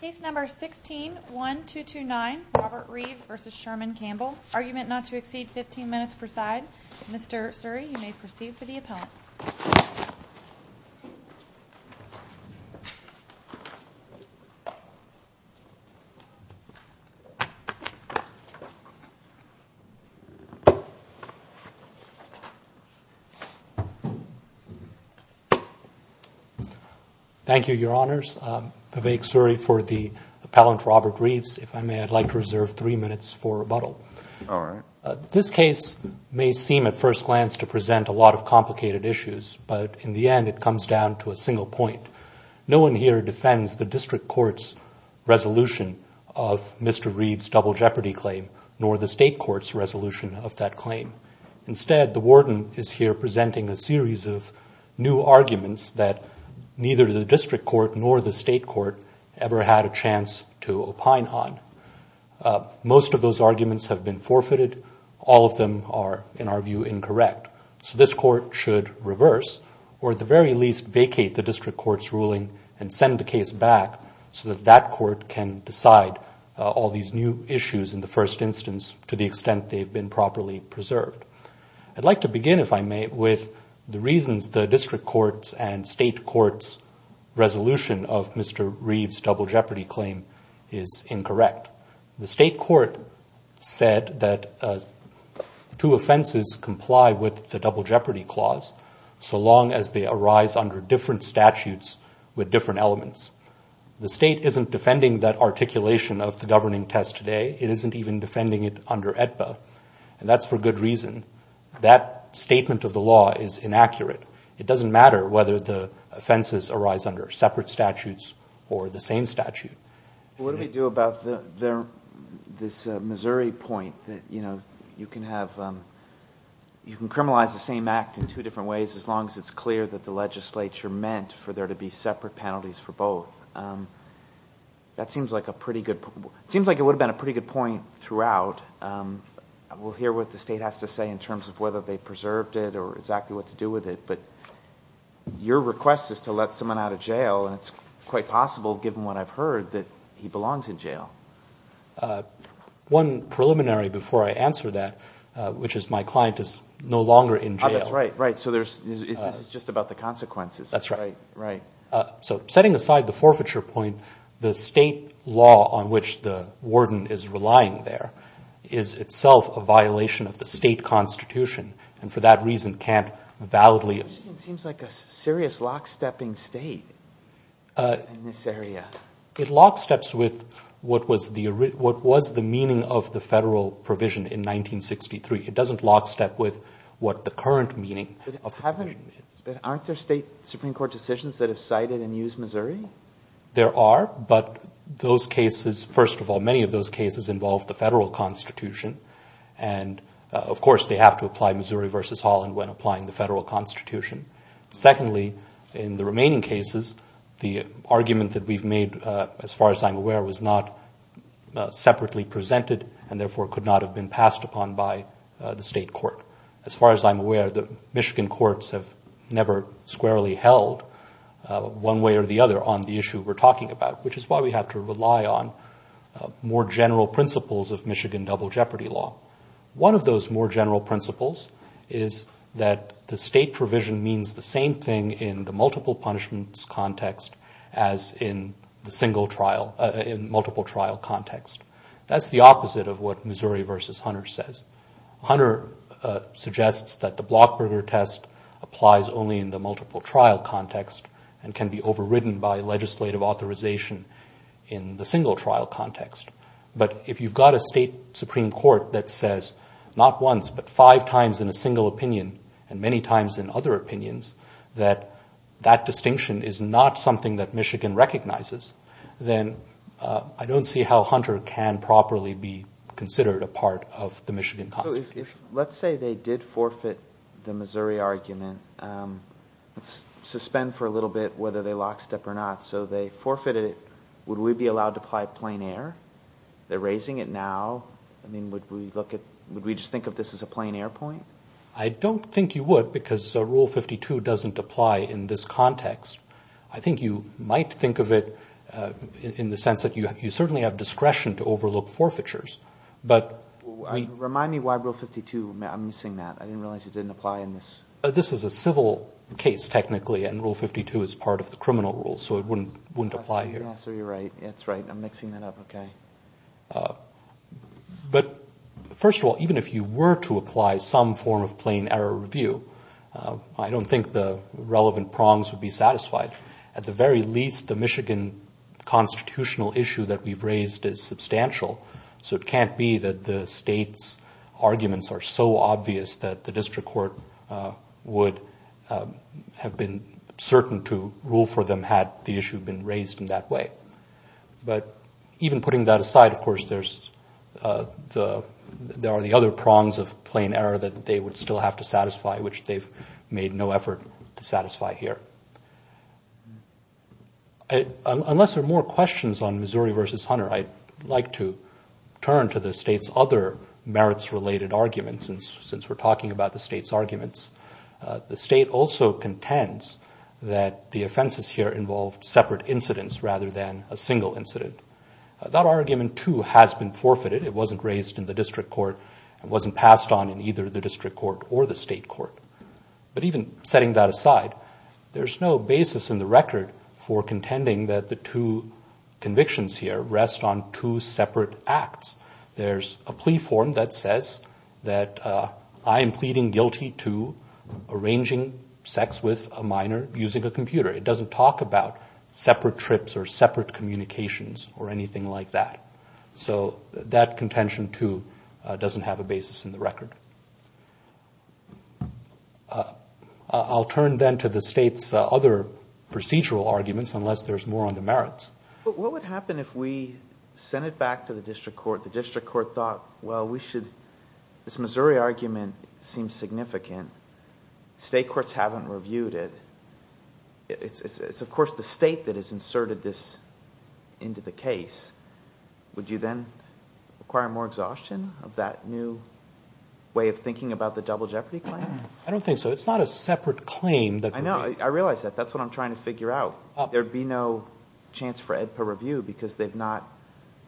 Case number 16-1229, Robert Reeves v. Sherman Campbell. Argument not to exceed 15 minutes per side. Mr. Suri, you may proceed for the appellant. Thank you, Your Honors. Vivek Suri for the appellant, Robert Reeves. If I may, I'd like to reserve three minutes for rebuttal. All right. This case may seem at first glance to present a lot of complicated issues, but in the end it comes down to a single point. No one here defends the district court's resolution of Mr. Reeves' double jeopardy claim, nor the state court's resolution of that claim. Instead, the warden is here presenting a series of new arguments that neither the district court nor the state court ever had a chance to opine on. Most of those arguments have been forfeited. All of them are, in our view, incorrect. So this court should reverse, or at the very least vacate the district court's ruling and send the case back so that that court can decide all these new issues in the first instance to the extent they've been properly preserved. I'd like to begin, if I may, with the reasons the district court's and state court's resolution of Mr. Reeves' double jeopardy claim is incorrect. The state court said that two offenses comply with the double jeopardy clause so long as they arise under different statutes with different elements. The state isn't defending that articulation of the governing test today. It isn't even defending it under AEDPA. And that's for good reason. That statement of the law is inaccurate. It doesn't matter whether the offenses arise under separate statutes or the same statute. What do we do about this Missouri point that you can criminalize the same act in two different ways as long as it's clear that the legislature meant for there to be separate penalties for both? It seems like it would have been a pretty good point throughout. We'll hear what the state has to say in terms of whether they preserved it or exactly what to do with it. But your request is to let someone out of jail, and it's quite possible, given what I've heard, that he belongs in jail. One preliminary before I answer that, which is my client is no longer in jail. That's right. So this is just about the consequences. So setting aside the forfeiture point, the state law on which the warden is relying there is itself a violation of the state constitution, and for that reason can't validly It seems like a serious lock-stepping state in this area. It lock-steps with what was the meaning of the federal provision in 1963. It doesn't lock-step with what the current meaning of the provision is. Aren't there state Supreme Court decisions that have cited and used Missouri? There are, but those cases, first of all, many of those cases involve the federal constitution. And, of course, they have to apply Missouri v. Holland when applying the federal constitution. Secondly, in the remaining cases, the argument that we've made, as far as I'm aware, was not separately presented and therefore could not have been passed upon by the state court. As far as I'm aware, the Michigan courts have never squarely held one way or the other on the issue we're talking about, which is why we have to rely on more general principles of Michigan double jeopardy law. One of those more general principles is that the state provision means the same thing in the multiple punishments context as in the single trial, in multiple trial context. That's the opposite of what Missouri v. Hunter says. Hunter suggests that the Blockberger test applies only in the multiple trial context and can be overridden by legislative authorization in the single trial context. But if you've got a state Supreme Court that says not once but five times in a single opinion and many times in other opinions that that distinction is not something that Michigan recognizes, then I don't see how Hunter can properly be considered a part of the Michigan constitution. Let's say they did forfeit the Missouri argument. Suspend for a little bit whether they lockstep or not. So they forfeited it. Would we be allowed to apply plain air? They're raising it now. Would we just think of this as a plain air point? I don't think you would because Rule 52 doesn't apply in this context. I think you might think of it in the sense that you certainly have discretion to overlook forfeitures. Remind me why Rule 52, I'm missing that. I didn't realize it didn't apply in this. This is a civil case technically and Rule 52 is part of the criminal rules. So it wouldn't apply here. But first of all, even if you were to apply some form of plain air review, I don't think the relevant prongs would be satisfied. At the very least, the Michigan constitutional issue that we've raised is substantial. So it can't be that the state's arguments are so obvious that the district court would have been certain to rule for them had the issue been raised in that way. But even putting that aside, of course, there are the other prongs of plain air that they would still have to satisfy, which they've made no effort to satisfy here. Unless there are more questions on Missouri v. Hunter, I'd like to turn to the state's other merits-related arguments. Since we're talking about the state's arguments, the state also contends that the offenses here involved separate incidents rather than a single incident. That argument, too, has been forfeited. It wasn't raised in the district court and wasn't passed on in either the district court or the state court. But even setting that aside, there's no basis in the record for contending that the two convictions here rest on two separate acts. There's a plea form that says that I am pleading guilty to arranging sex with a minor using a computer. It doesn't talk about separate trips or separate communications or anything like that. So that contention, too, doesn't have a basis in the record. I'll turn then to the state's other procedural arguments, unless there's more on the merits. But what would happen if we sent it back to the district court, the district court thought, well, we should, this Missouri argument seems significant. State courts haven't reviewed it. It's of course the state that has inserted this into the case. Would you then require more exhaustion of that new way of thinking about the double jeopardy claim? I don't think so. It's not a separate claim. I realize that. That's what I'm trying to figure out. There would be no chance for AEDPA review because they've not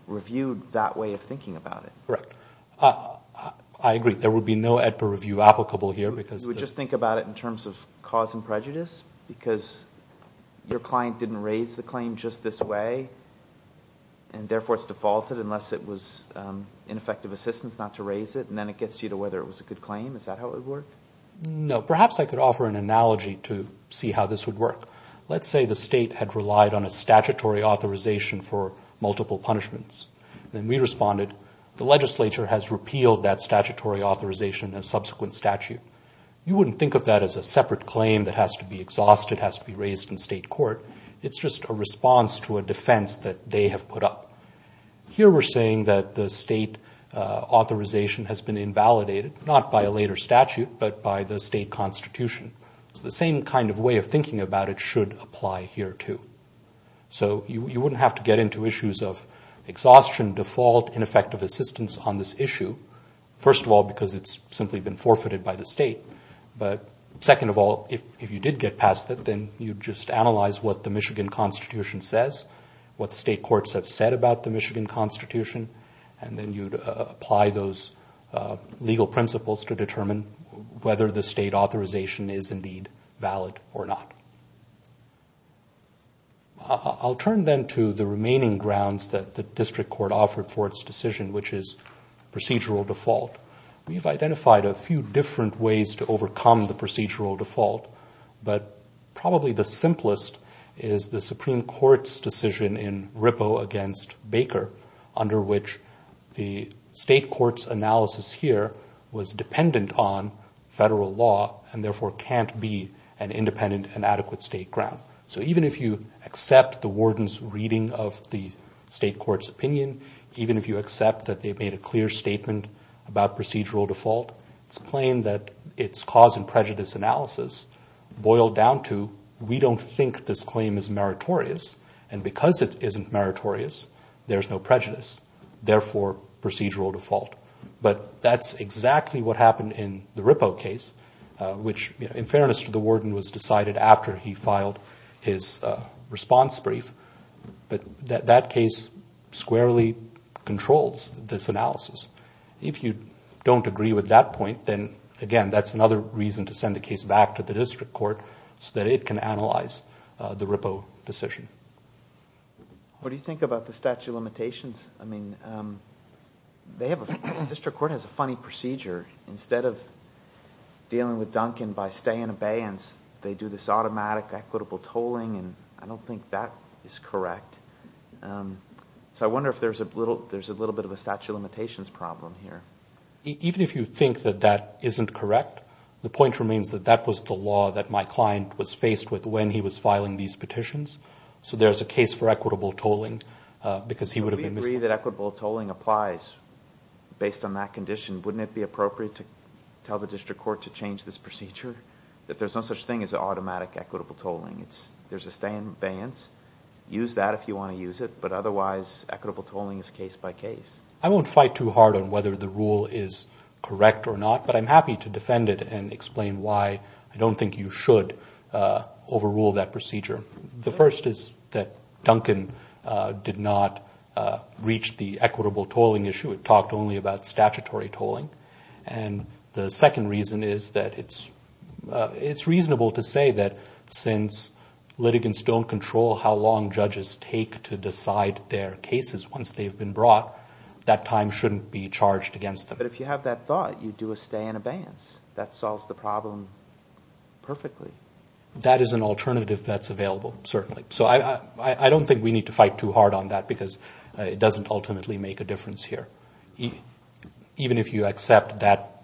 reviewed that way of thinking about it. Correct. I agree. There would be no AEDPA review applicable here. You would just think about it in terms of cause and prejudice? Because your client didn't raise the claim just this way, and therefore it's defaulted unless it was ineffective assistance not to raise it, and then it gets you to whether it was a good claim? Is that how it would work? No. Perhaps I could offer an analogy to see how this would work. Let's say the state had relied on a statutory authorization for multiple punishments. Then we responded, the legislature has repealed that statutory authorization and subsequent statute. You wouldn't think of that as a separate claim that has to be exhausted, has to be raised in state court. It's just a response to a defense that they have put up. Here we're saying that the state authorization has been invalidated, not by a later statute, but by the state constitution. The same kind of way of thinking about it should apply here, too. You wouldn't have to get into issues of exhaustion, default, ineffective assistance on this issue. First of all, because it's simply been forfeited by the state. Second of all, if you did get past it, then you'd just analyze what the Michigan constitution says, what the state courts have said about the Michigan constitution, and then you'd apply those legal principles to determine whether the state authorization is indeed valid or not. I'll turn then to the remaining grounds that the district court offered for its decision, which is procedural default. We've identified a few different ways to overcome the procedural default, but probably the simplest is the Supreme Court's decision in Rippo against Baker, under which the state court's analysis here was dependent on federal law and therefore can't be an independent and adequate state ground. So even if you accept the warden's reading of the state court's opinion, even if you accept that they made a clear statement about procedural default, it's plain that its cause and prejudice analysis boiled down to, we don't think this claim is meritorious, and because it isn't meritorious, there's no prejudice, therefore procedural default. But that's exactly what happened in the Rippo case, which in fairness to the warden, was decided after he filed his response brief. But that case squarely controls this analysis. If you don't agree with that point, then again, that's another reason to send the case back to the district court so that it can analyze the Rippo decision. What do you think about the statute of limitations? I mean, the district court has a funny procedure. Instead of dealing with Duncan by stay and abeyance, they do this automatic equitable tolling, and I don't think that is correct. So I wonder if there's a little bit of a statute of limitations problem here. Even if you think that that isn't correct, the point remains that that was the law that my client was faced with when he was filing these petitions, so there's a case for equitable tolling, because he would have been misled. But we agree that equitable tolling applies based on that condition. Wouldn't it be appropriate to tell the district court to change this procedure, that there's no such thing as automatic equitable tolling? There's a stay and abeyance. Use that if you want to use it, but otherwise equitable tolling is case by case. I won't fight too hard on whether the rule is correct or not, but I'm happy to defend it and explain why I don't think you should overrule that procedure. The first is that Duncan did not reach the equitable tolling issue. It talked only about statutory tolling. And the second reason is that it's reasonable to say that since litigants don't control how long judges take to decide their cases once they've been brought, that time shouldn't be charged against them. But if you have that thought, you do a stay and abeyance. That solves the problem perfectly. That is an alternative that's available, certainly. So I don't think we need to fight too hard on that, because it doesn't ultimately make a difference here. Even if you accept that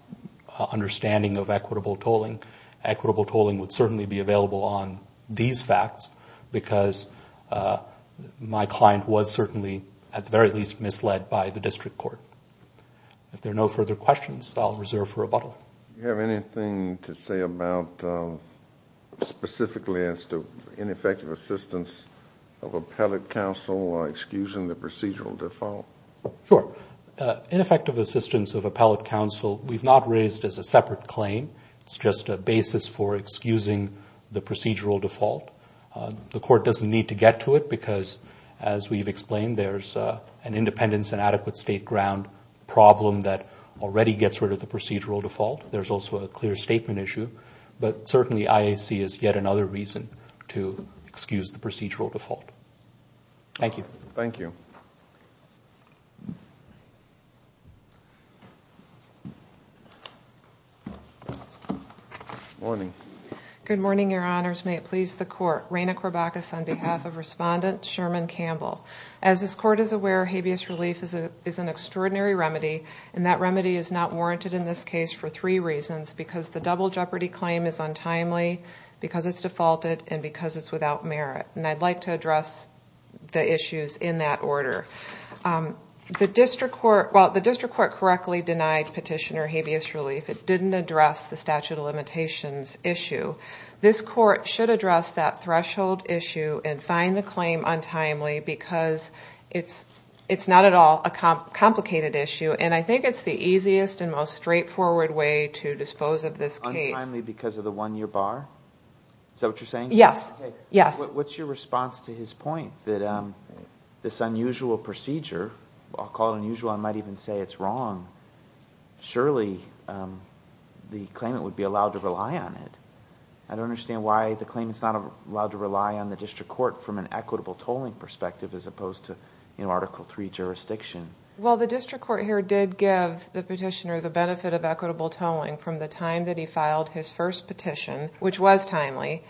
understanding of equitable tolling, equitable tolling would certainly be available on these facts, because my client was certainly, at the very least, misled by the district court. If there are no further questions, I'll reserve for rebuttal. Do you have anything to say specifically as to ineffective assistance of appellate counsel excusing the procedural default? Sure. Ineffective assistance of appellate counsel, we've not raised as a separate claim. It's just a basis for excusing the procedural default. The court doesn't need to get to it, because as we've explained, there's an independence and adequate state ground problem that already gets rid of the procedural default. There's also a clear statement issue. But certainly IAC is yet another reason to excuse the procedural default. Thank you. Good morning, Your Honors. May it please the Court. As this Court is aware, habeas relief is an extraordinary remedy, and that remedy is not warranted in this case for three reasons. Because the double jeopardy claim is untimely, because it's defaulted, and because it's without merit. And I'd like to address the issues in that order. The district court correctly denied petitioner habeas relief. It didn't address the statute of limitations issue. This Court should address that threshold issue and find the claim untimely, because it's not at all a complicated issue. And I think it's the easiest and most straightforward way to dispose of this case. Untimely because of the one-year bar? Is that what you're saying? Yes. What's your response to his point that this unusual procedure, I'll call it unusual, I might even say it's wrong, surely the claimant would be allowed to rely on it? I don't understand why the claimant's not allowed to rely on the district court from an equitable tolling perspective, as opposed to Article III jurisdiction. Well, the district court here did give the petitioner the benefit of equitable tolling from the time that he filed his first petition, which was timely,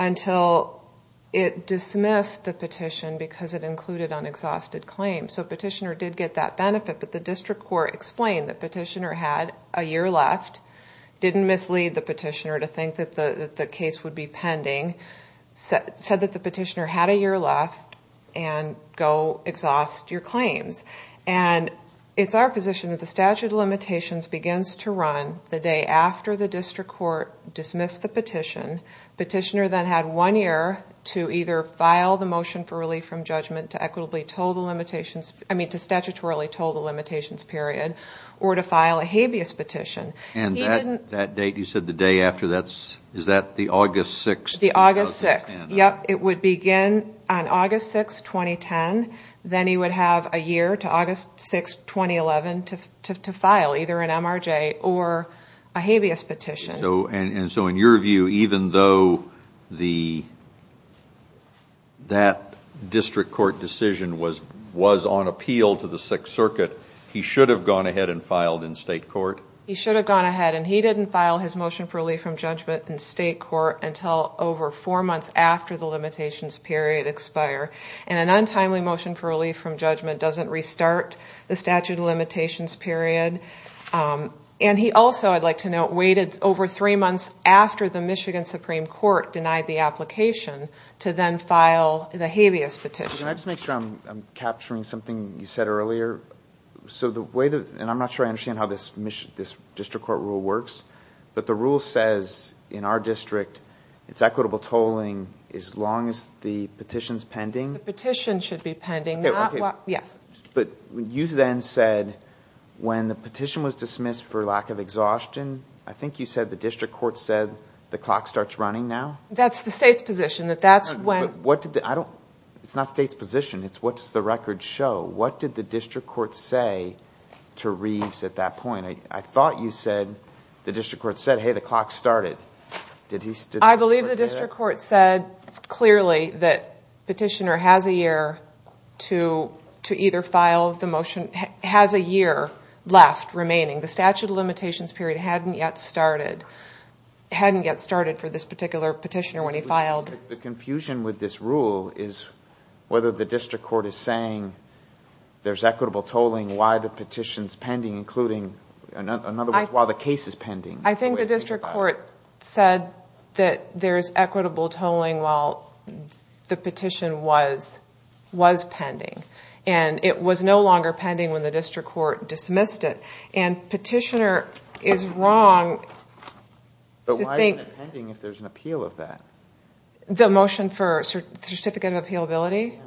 until it dismissed the petition because it included an exhausted claim. So petitioner did get that benefit, but the district court explained the petitioner had a year left, didn't mislead the petitioner to think that the case would be pending, said that the petitioner had a year left, and go exhaust your claims. And it's our position that the statute of limitations begins to run the day after the district court dismissed the petition. Petitioner then had one year to either file the motion for relief from judgment to equitably toll the limitations, I mean to statutorily toll the limitations period, or to file a habeas petition. And that date, you said the day after, is that the August 6th? The August 6th, yep. It would begin on August 6th, 2010. Then he would have a year to August 6th, 2011, to file either an MRJ or a habeas petition. And so in your view, even though that district court decision was on appeal to the Sixth Circuit, he should have gone ahead and filed in state court? He should have gone ahead, and he didn't file his motion for relief from judgment in state court until over four months after the limitations period expire. And an untimely motion for relief from judgment doesn't restart the statute of limitations period. And he also, I'd like to note, waited over three months after the Michigan Supreme Court denied the application to then file the habeas petition. Can I just make sure I'm capturing something you said earlier? And I'm not sure I understand how this district court rule works, but the rule says in our district it's equitable tolling as long as the petition's pending? The petition should be pending. But you then said when the petition was dismissed for lack of exhaustion, I think you said the district court said the clock starts running now? That's the state's position. It's not the state's position, it's what does the record show? What did the district court say to Reeves at that point? I thought you said the district court said, hey, the clock started. I believe the district court said clearly that the petitioner has a year to either file the motion, has a year left remaining. The statute of limitations period hadn't yet started for this particular petitioner when he filed. The confusion with this rule is whether the district court is saying there's equitable tolling while the petition's pending, including, in other words, while the case is pending. I think the district court said that there's equitable tolling while the petition was pending. And it was no longer pending when the district court dismissed it. And petitioner is wrong to think... But why isn't it pending if there's an appeal of that? The motion for certificate of appealability?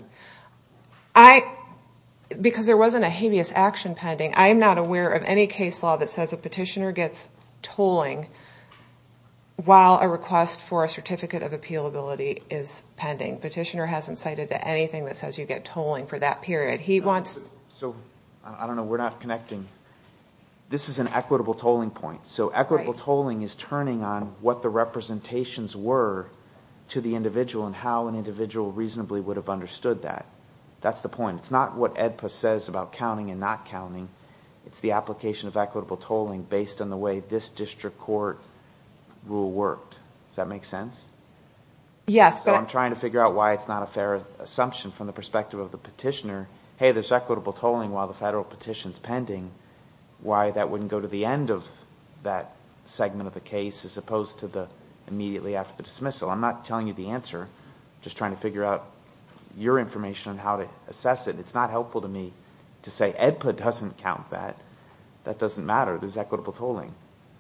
Because there wasn't a habeas action pending. I am not aware of any case law that says a petitioner gets tolling while a request for a certificate of appealability is pending. Petitioner hasn't cited anything that says you get tolling for that period. I don't know, we're not connecting. This is an equitable tolling point. So equitable tolling is turning on what the representations were to the individual and how an individual reasonably would have understood that. It's the application of equitable tolling based on the way this district court rule worked. Does that make sense? So I'm trying to figure out why it's not a fair assumption from the perspective of the petitioner. Hey, there's equitable tolling while the federal petition's pending. Why that wouldn't go to the end of that segment of the case as opposed to the immediately after the dismissal? I'm not telling you the answer. I'm just trying to figure out your information on how to assess it. It's not helpful to me to say EDPA doesn't count that. That doesn't matter. This is equitable tolling.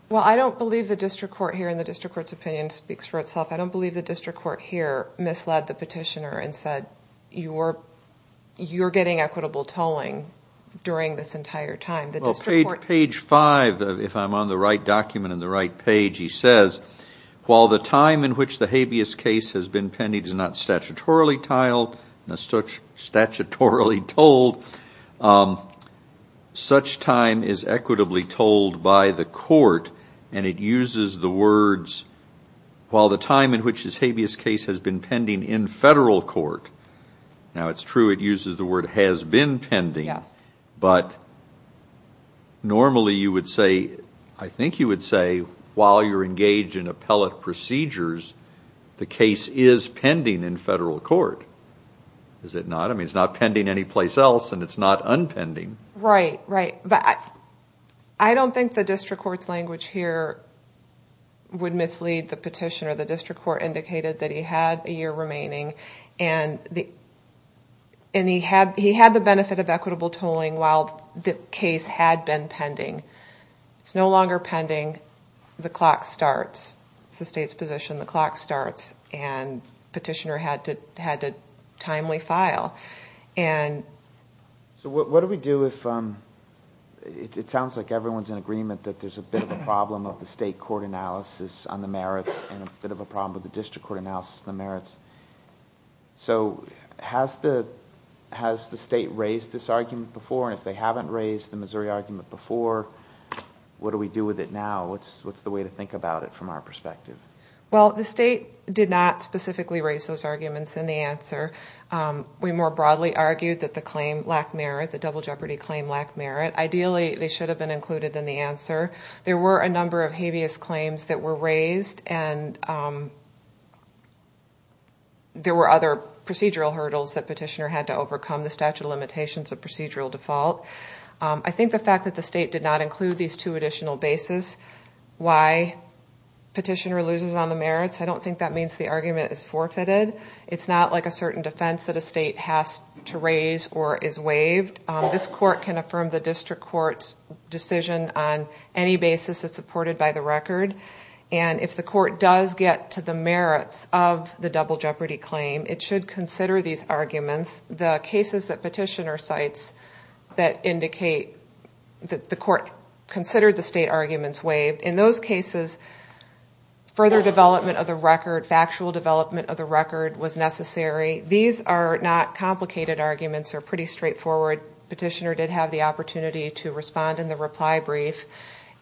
Well, I don't believe the district court here and the district court's opinion speaks for itself. I don't believe the district court here misled the petitioner and said you're getting equitable tolling during this entire time. Page five, if I'm on the right document and the right page, he says, while the time in which the habeas case has been pending is not statutorily titled, not statutorily tolled, such time is equitably tolled by the court and it uses the words, while the time in which this habeas case has been pending in federal court. Now, it's true it uses the word has been pending, but normally you would say, I think you would say while you're engaged in appellate procedures, the case is pending in federal court. Is it not? I mean, it's not pending anyplace else and it's not unpending. Right, right. But I don't think the district court's language here would mislead the petitioner. The district court indicated that he had a year remaining and he had the benefit of equitable tolling while the case had been pending. So what do we do if... It sounds like everyone's in agreement that there's a bit of a problem of the state court analysis on the merits and a bit of a problem with the district court analysis on the merits. So has the state raised this argument before? And if they haven't raised the Missouri argument before, what do we do with it now? What's the way to think about it from our perspective? Well, I don't think the state has raised this argument before. We more broadly argued that the claim lacked merit, the double jeopardy claim lacked merit. Ideally, they should have been included in the answer. There were a number of habeas claims that were raised and there were other procedural hurdles that petitioner had to overcome. The statute of limitations of procedural default. That's a different defense that a state has to raise or is waived. This court can affirm the district court's decision on any basis that's supported by the record. And if the court does get to the merits of the double jeopardy claim, it should consider these arguments. The cases that petitioner cites that indicate that the court considered the state arguments waived. In those cases, further development of the record, factual development of the record was necessary. These are not complicated arguments, they're pretty straightforward. Petitioner did have the opportunity to respond in the reply brief.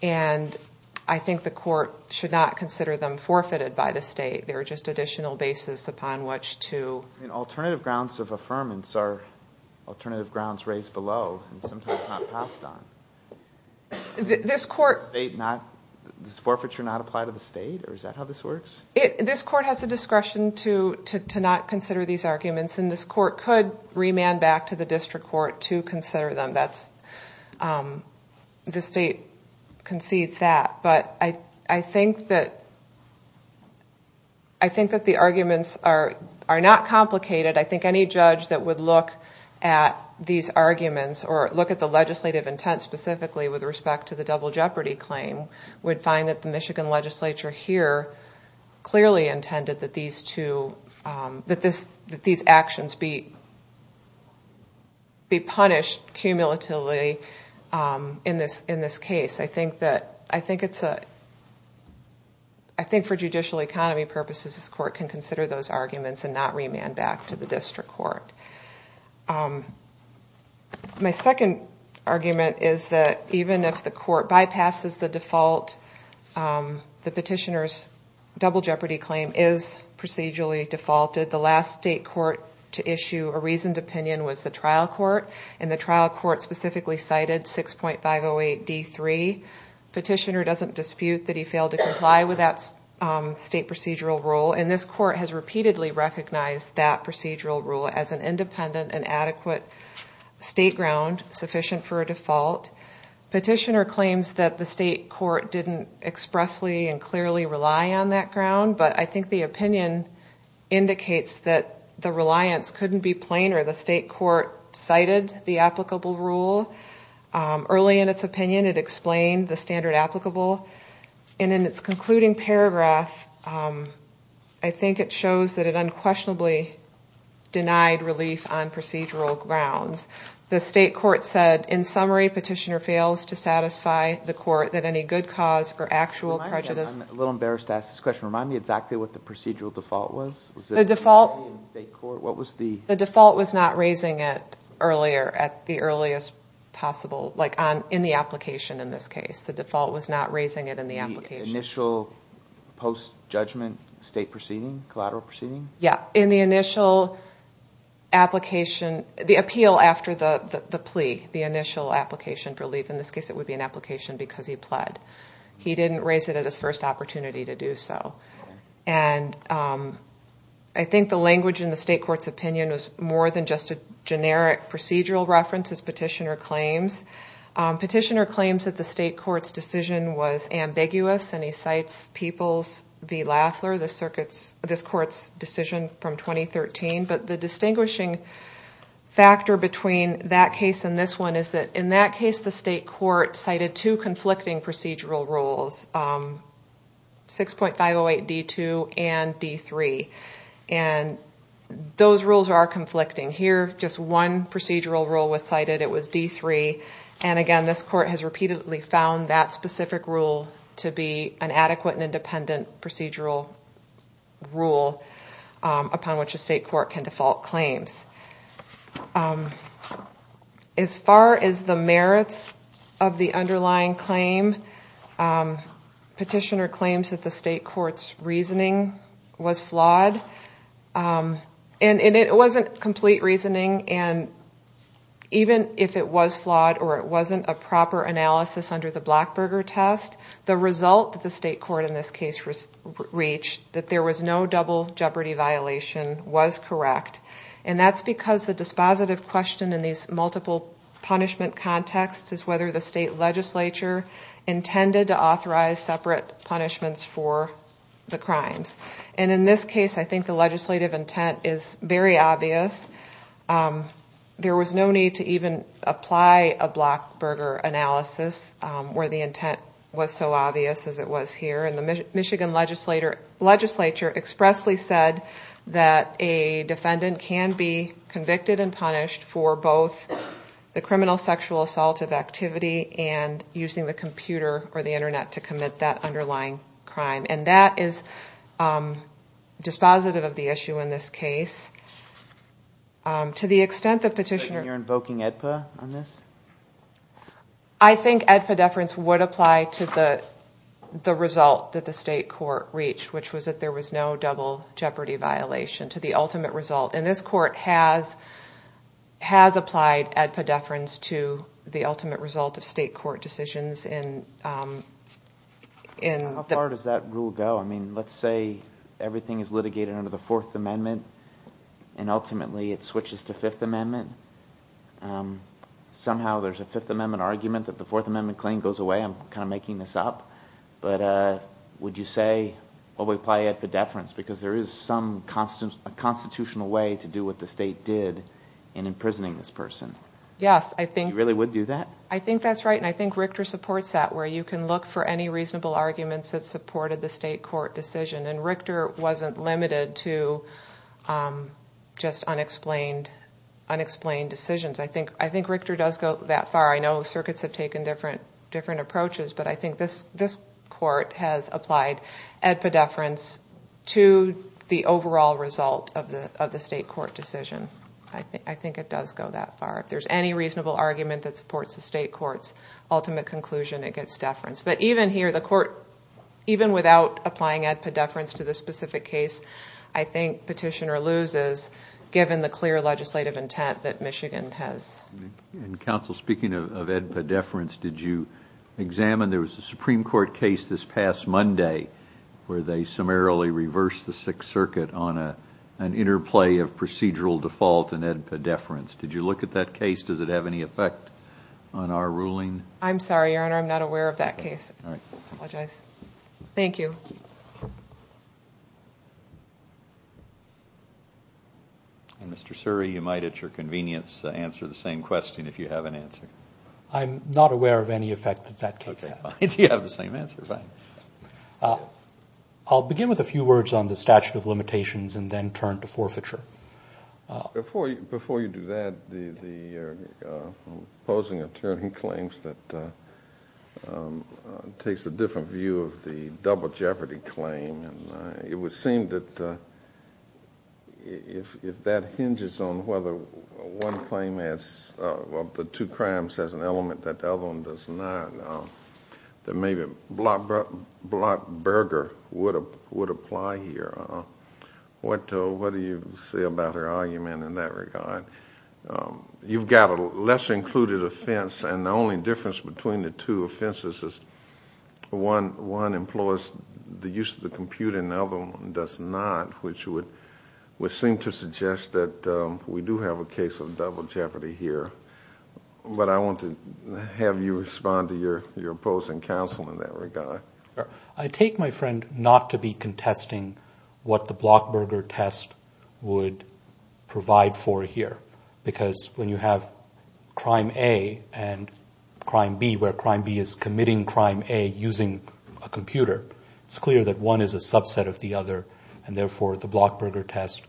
And I think the court should not consider them forfeited by the state. They're just additional basis upon which to... Alternative grounds of affirmance are alternative grounds raised below and sometimes not passed on. Does forfeiture not apply to the state or is that how this works? This court has the discretion to not consider these arguments and this court could remand back to the district court to consider them. The state concedes that. I think that the arguments are not complicated. I think any judge that would look at these arguments or look at the legislative intent specifically with respect to the double jeopardy claim would find that the Michigan legislature here clearly intended that these actions be punished cumulatively in this case. I think for judicial economy purposes this court can consider those arguments and not remand back to the district court. My second argument is that even if the court bypasses the default, the petitioner's double jeopardy claim is procedurally defaulted. The last state court to issue a reasoned opinion was the trial court. And the trial court specifically cited 6.508D3. Petitioner doesn't dispute that he failed to comply with that state procedural rule. And this court has repeatedly recognized that procedural rule as an independent and adequate state ground sufficient for a default. Petitioner claims that the state court didn't expressly and clearly rely on that ground. But I think the opinion indicates that the reliance couldn't be plainer. The state court cited the applicable rule early in its opinion. It explained the standard applicable. I think it shows that it unquestionably denied relief on procedural grounds. The state court said, in summary, petitioner fails to satisfy the court that any good cause or actual prejudice... I'm a little embarrassed to ask this question. Remind me exactly what the procedural default was? The default was not raising it earlier, at the earliest possible, like in the application in this case. The initial post-judgment state proceeding? Collateral proceeding? Yeah. In the initial application. The appeal after the plea. The initial application for relief. In this case it would be an application because he pled. He didn't raise it at his first opportunity to do so. I think the language in the state court's opinion was more than just a generic procedural reference, as petitioner claims. Petitioner claims that the state court's decision was ambiguous. And he cites Peoples v. Laffler, this court's decision from 2013. But the distinguishing factor between that case and this one is that in that case, the state court cited two conflicting procedural rules. 6.508 D2 and D3. And those rules are conflicting. Here, just one procedural rule was cited. It was D3. And again, this court has repeatedly found that specific rule to be an adequate and independent procedural rule upon which a state court can default claims. As far as the merits of the underlying claim, petitioner claims that the state court's reasoning was flawed. And it wasn't complete reasoning. And even if it was flawed or it wasn't a proper analysis under the Blackburger test, the result that the state court in this case reached, that there was no double jeopardy violation, was correct. And that's because the dispositive question in these multiple punishment contexts is whether the state legislature intended to authorize separate punishments for the crimes. And in this case, I think the legislative intent is very obvious. There was no need to even apply a Blackburger analysis where the intent was so obvious as it was here. And the Michigan legislature expressly said that a defendant can be convicted and punished for both the criminal sexual assault of activity and using the computer or the Internet to commit that underlying crime. And that is dispositive of the issue in this case. To the extent that petitioner... I think EDPA deference would apply to the result that the state court reached, which was that there was no double jeopardy violation, to the ultimate result. And this court has applied EDPA deference to the ultimate result of state court decisions in... How far does that rule go? I mean, let's say everything is litigated under the Fourth Amendment and ultimately it switches to Fifth Amendment. Somehow there's a Fifth Amendment argument that the Fourth Amendment claim goes away. I'm kind of making this up. But would you say, well, we apply EDPA deference because there is some constitutional way to do what the state did in imprisoning this person? You really would do that? I think that's right, and I think Richter supports that, where you can look for any reasonable arguments that supported the state court decision. And Richter wasn't limited to just unexplained decisions. I think Richter does go that far. I know circuits have taken different approaches, but I think this court has applied EDPA deference to the overall result of the state court decision. I think it does go that far. If there's any reasonable argument that supports the state court's ultimate conclusion, it gets deference. But even here, the court, even without applying EDPA deference to the specific case, I think Petitioner loses, given the clear legislative intent that Michigan has. Counsel, speaking of EDPA deference, did you examine, there was a Supreme Court case this past Monday where they summarily reversed the Sixth Circuit on an interplay of procedural default and EDPA deference. Did you look at that case? Does it have any effect on our ruling? I'm sorry, Your Honor, I'm not aware of that case. Mr. Suri, you might at your convenience answer the same question if you have an answer. I'm not aware of any effect that that case has. I'll begin with a few words on the statute of limitations and then turn to forfeiture. Before you do that, the opposing attorney claims that takes a different view of the double jeopardy claim. It would seem that if that hinges on whether one claim adds, well, the two crimes has an element that the other one does not, then maybe Blatt-Berger would apply here. What do you say about her argument in that regard? You've got a less included offense, and the only difference between the two offenses is one employs the use of the computer and the other one does not, which would seem to suggest that we do have a case of double jeopardy here. But I want to have you respond to your opposing counsel in that regard. I take my friend not to be contesting what the Blatt-Berger test would provide for here, because when you have crime A and crime B, where crime B is committing crime A using a computer, it's clear that one is a subset of the other, and therefore the Blatt-Berger test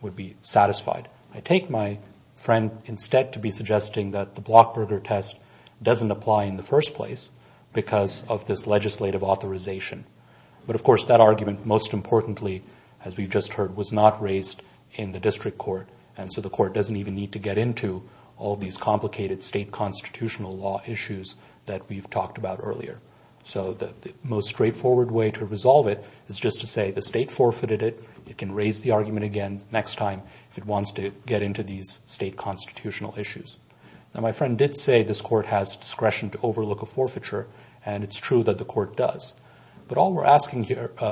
would be satisfied. I take my friend instead to be suggesting that the Blatt-Berger test doesn't apply in the first place because of this legislative authorization. But, of course, that argument, most importantly, as we've just heard, was not raised in the district court, and so the court doesn't even need to get into all these complicated state constitutional law issues that we've talked about earlier. So the most straightforward way to resolve it is just to say the state forfeited it. It can raise the argument again next time if it wants to get into these state constitutional issues. Now, my friend did say this court has discretion to overlook a forfeiture, and it's true that the court does. But all we're asking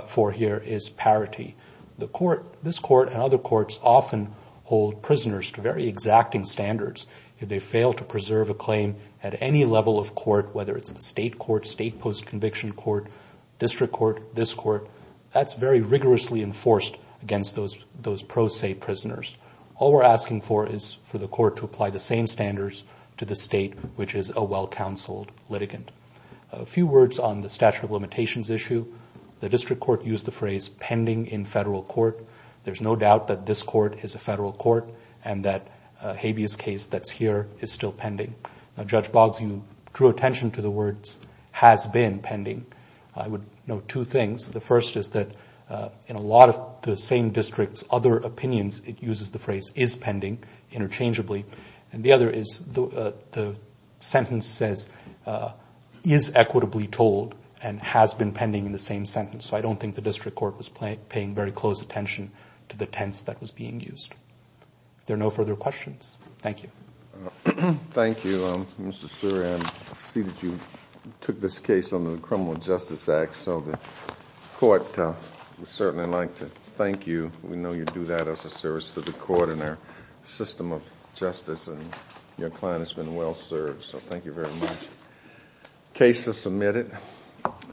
for here is parity. This court and other courts often hold prisoners to very exacting standards. If they fail to preserve a claim at any level of court, whether it's the state court, state post-conviction court, district court, this court, that's very rigorously enforced against those pro se prisoners. All we're asking for is for the court to apply the same standards to the state, which is a well-counseled litigant. A few words on the statute of limitations issue. The district court used the phrase pending in federal court. There's no doubt that this court is a federal court and that Habeas case that's here is still pending. Now, Judge Boggs, you drew attention to the words has been pending. I would note two things. The first is that in a lot of the same districts, other opinions, it uses the phrase is pending interchangeably. And the other is the sentence says is equitably told and has been pending in the same sentence. So I don't think the district court was paying very close attention to the tense that was being used. If there are no further questions, thank you. Thank you, Mr. Suri. I see that you took this case under the Criminal Justice Act, so the court would certainly like to thank you. We know you do that as a service to the court and our system of justice, and your client has been well served. So thank you very much.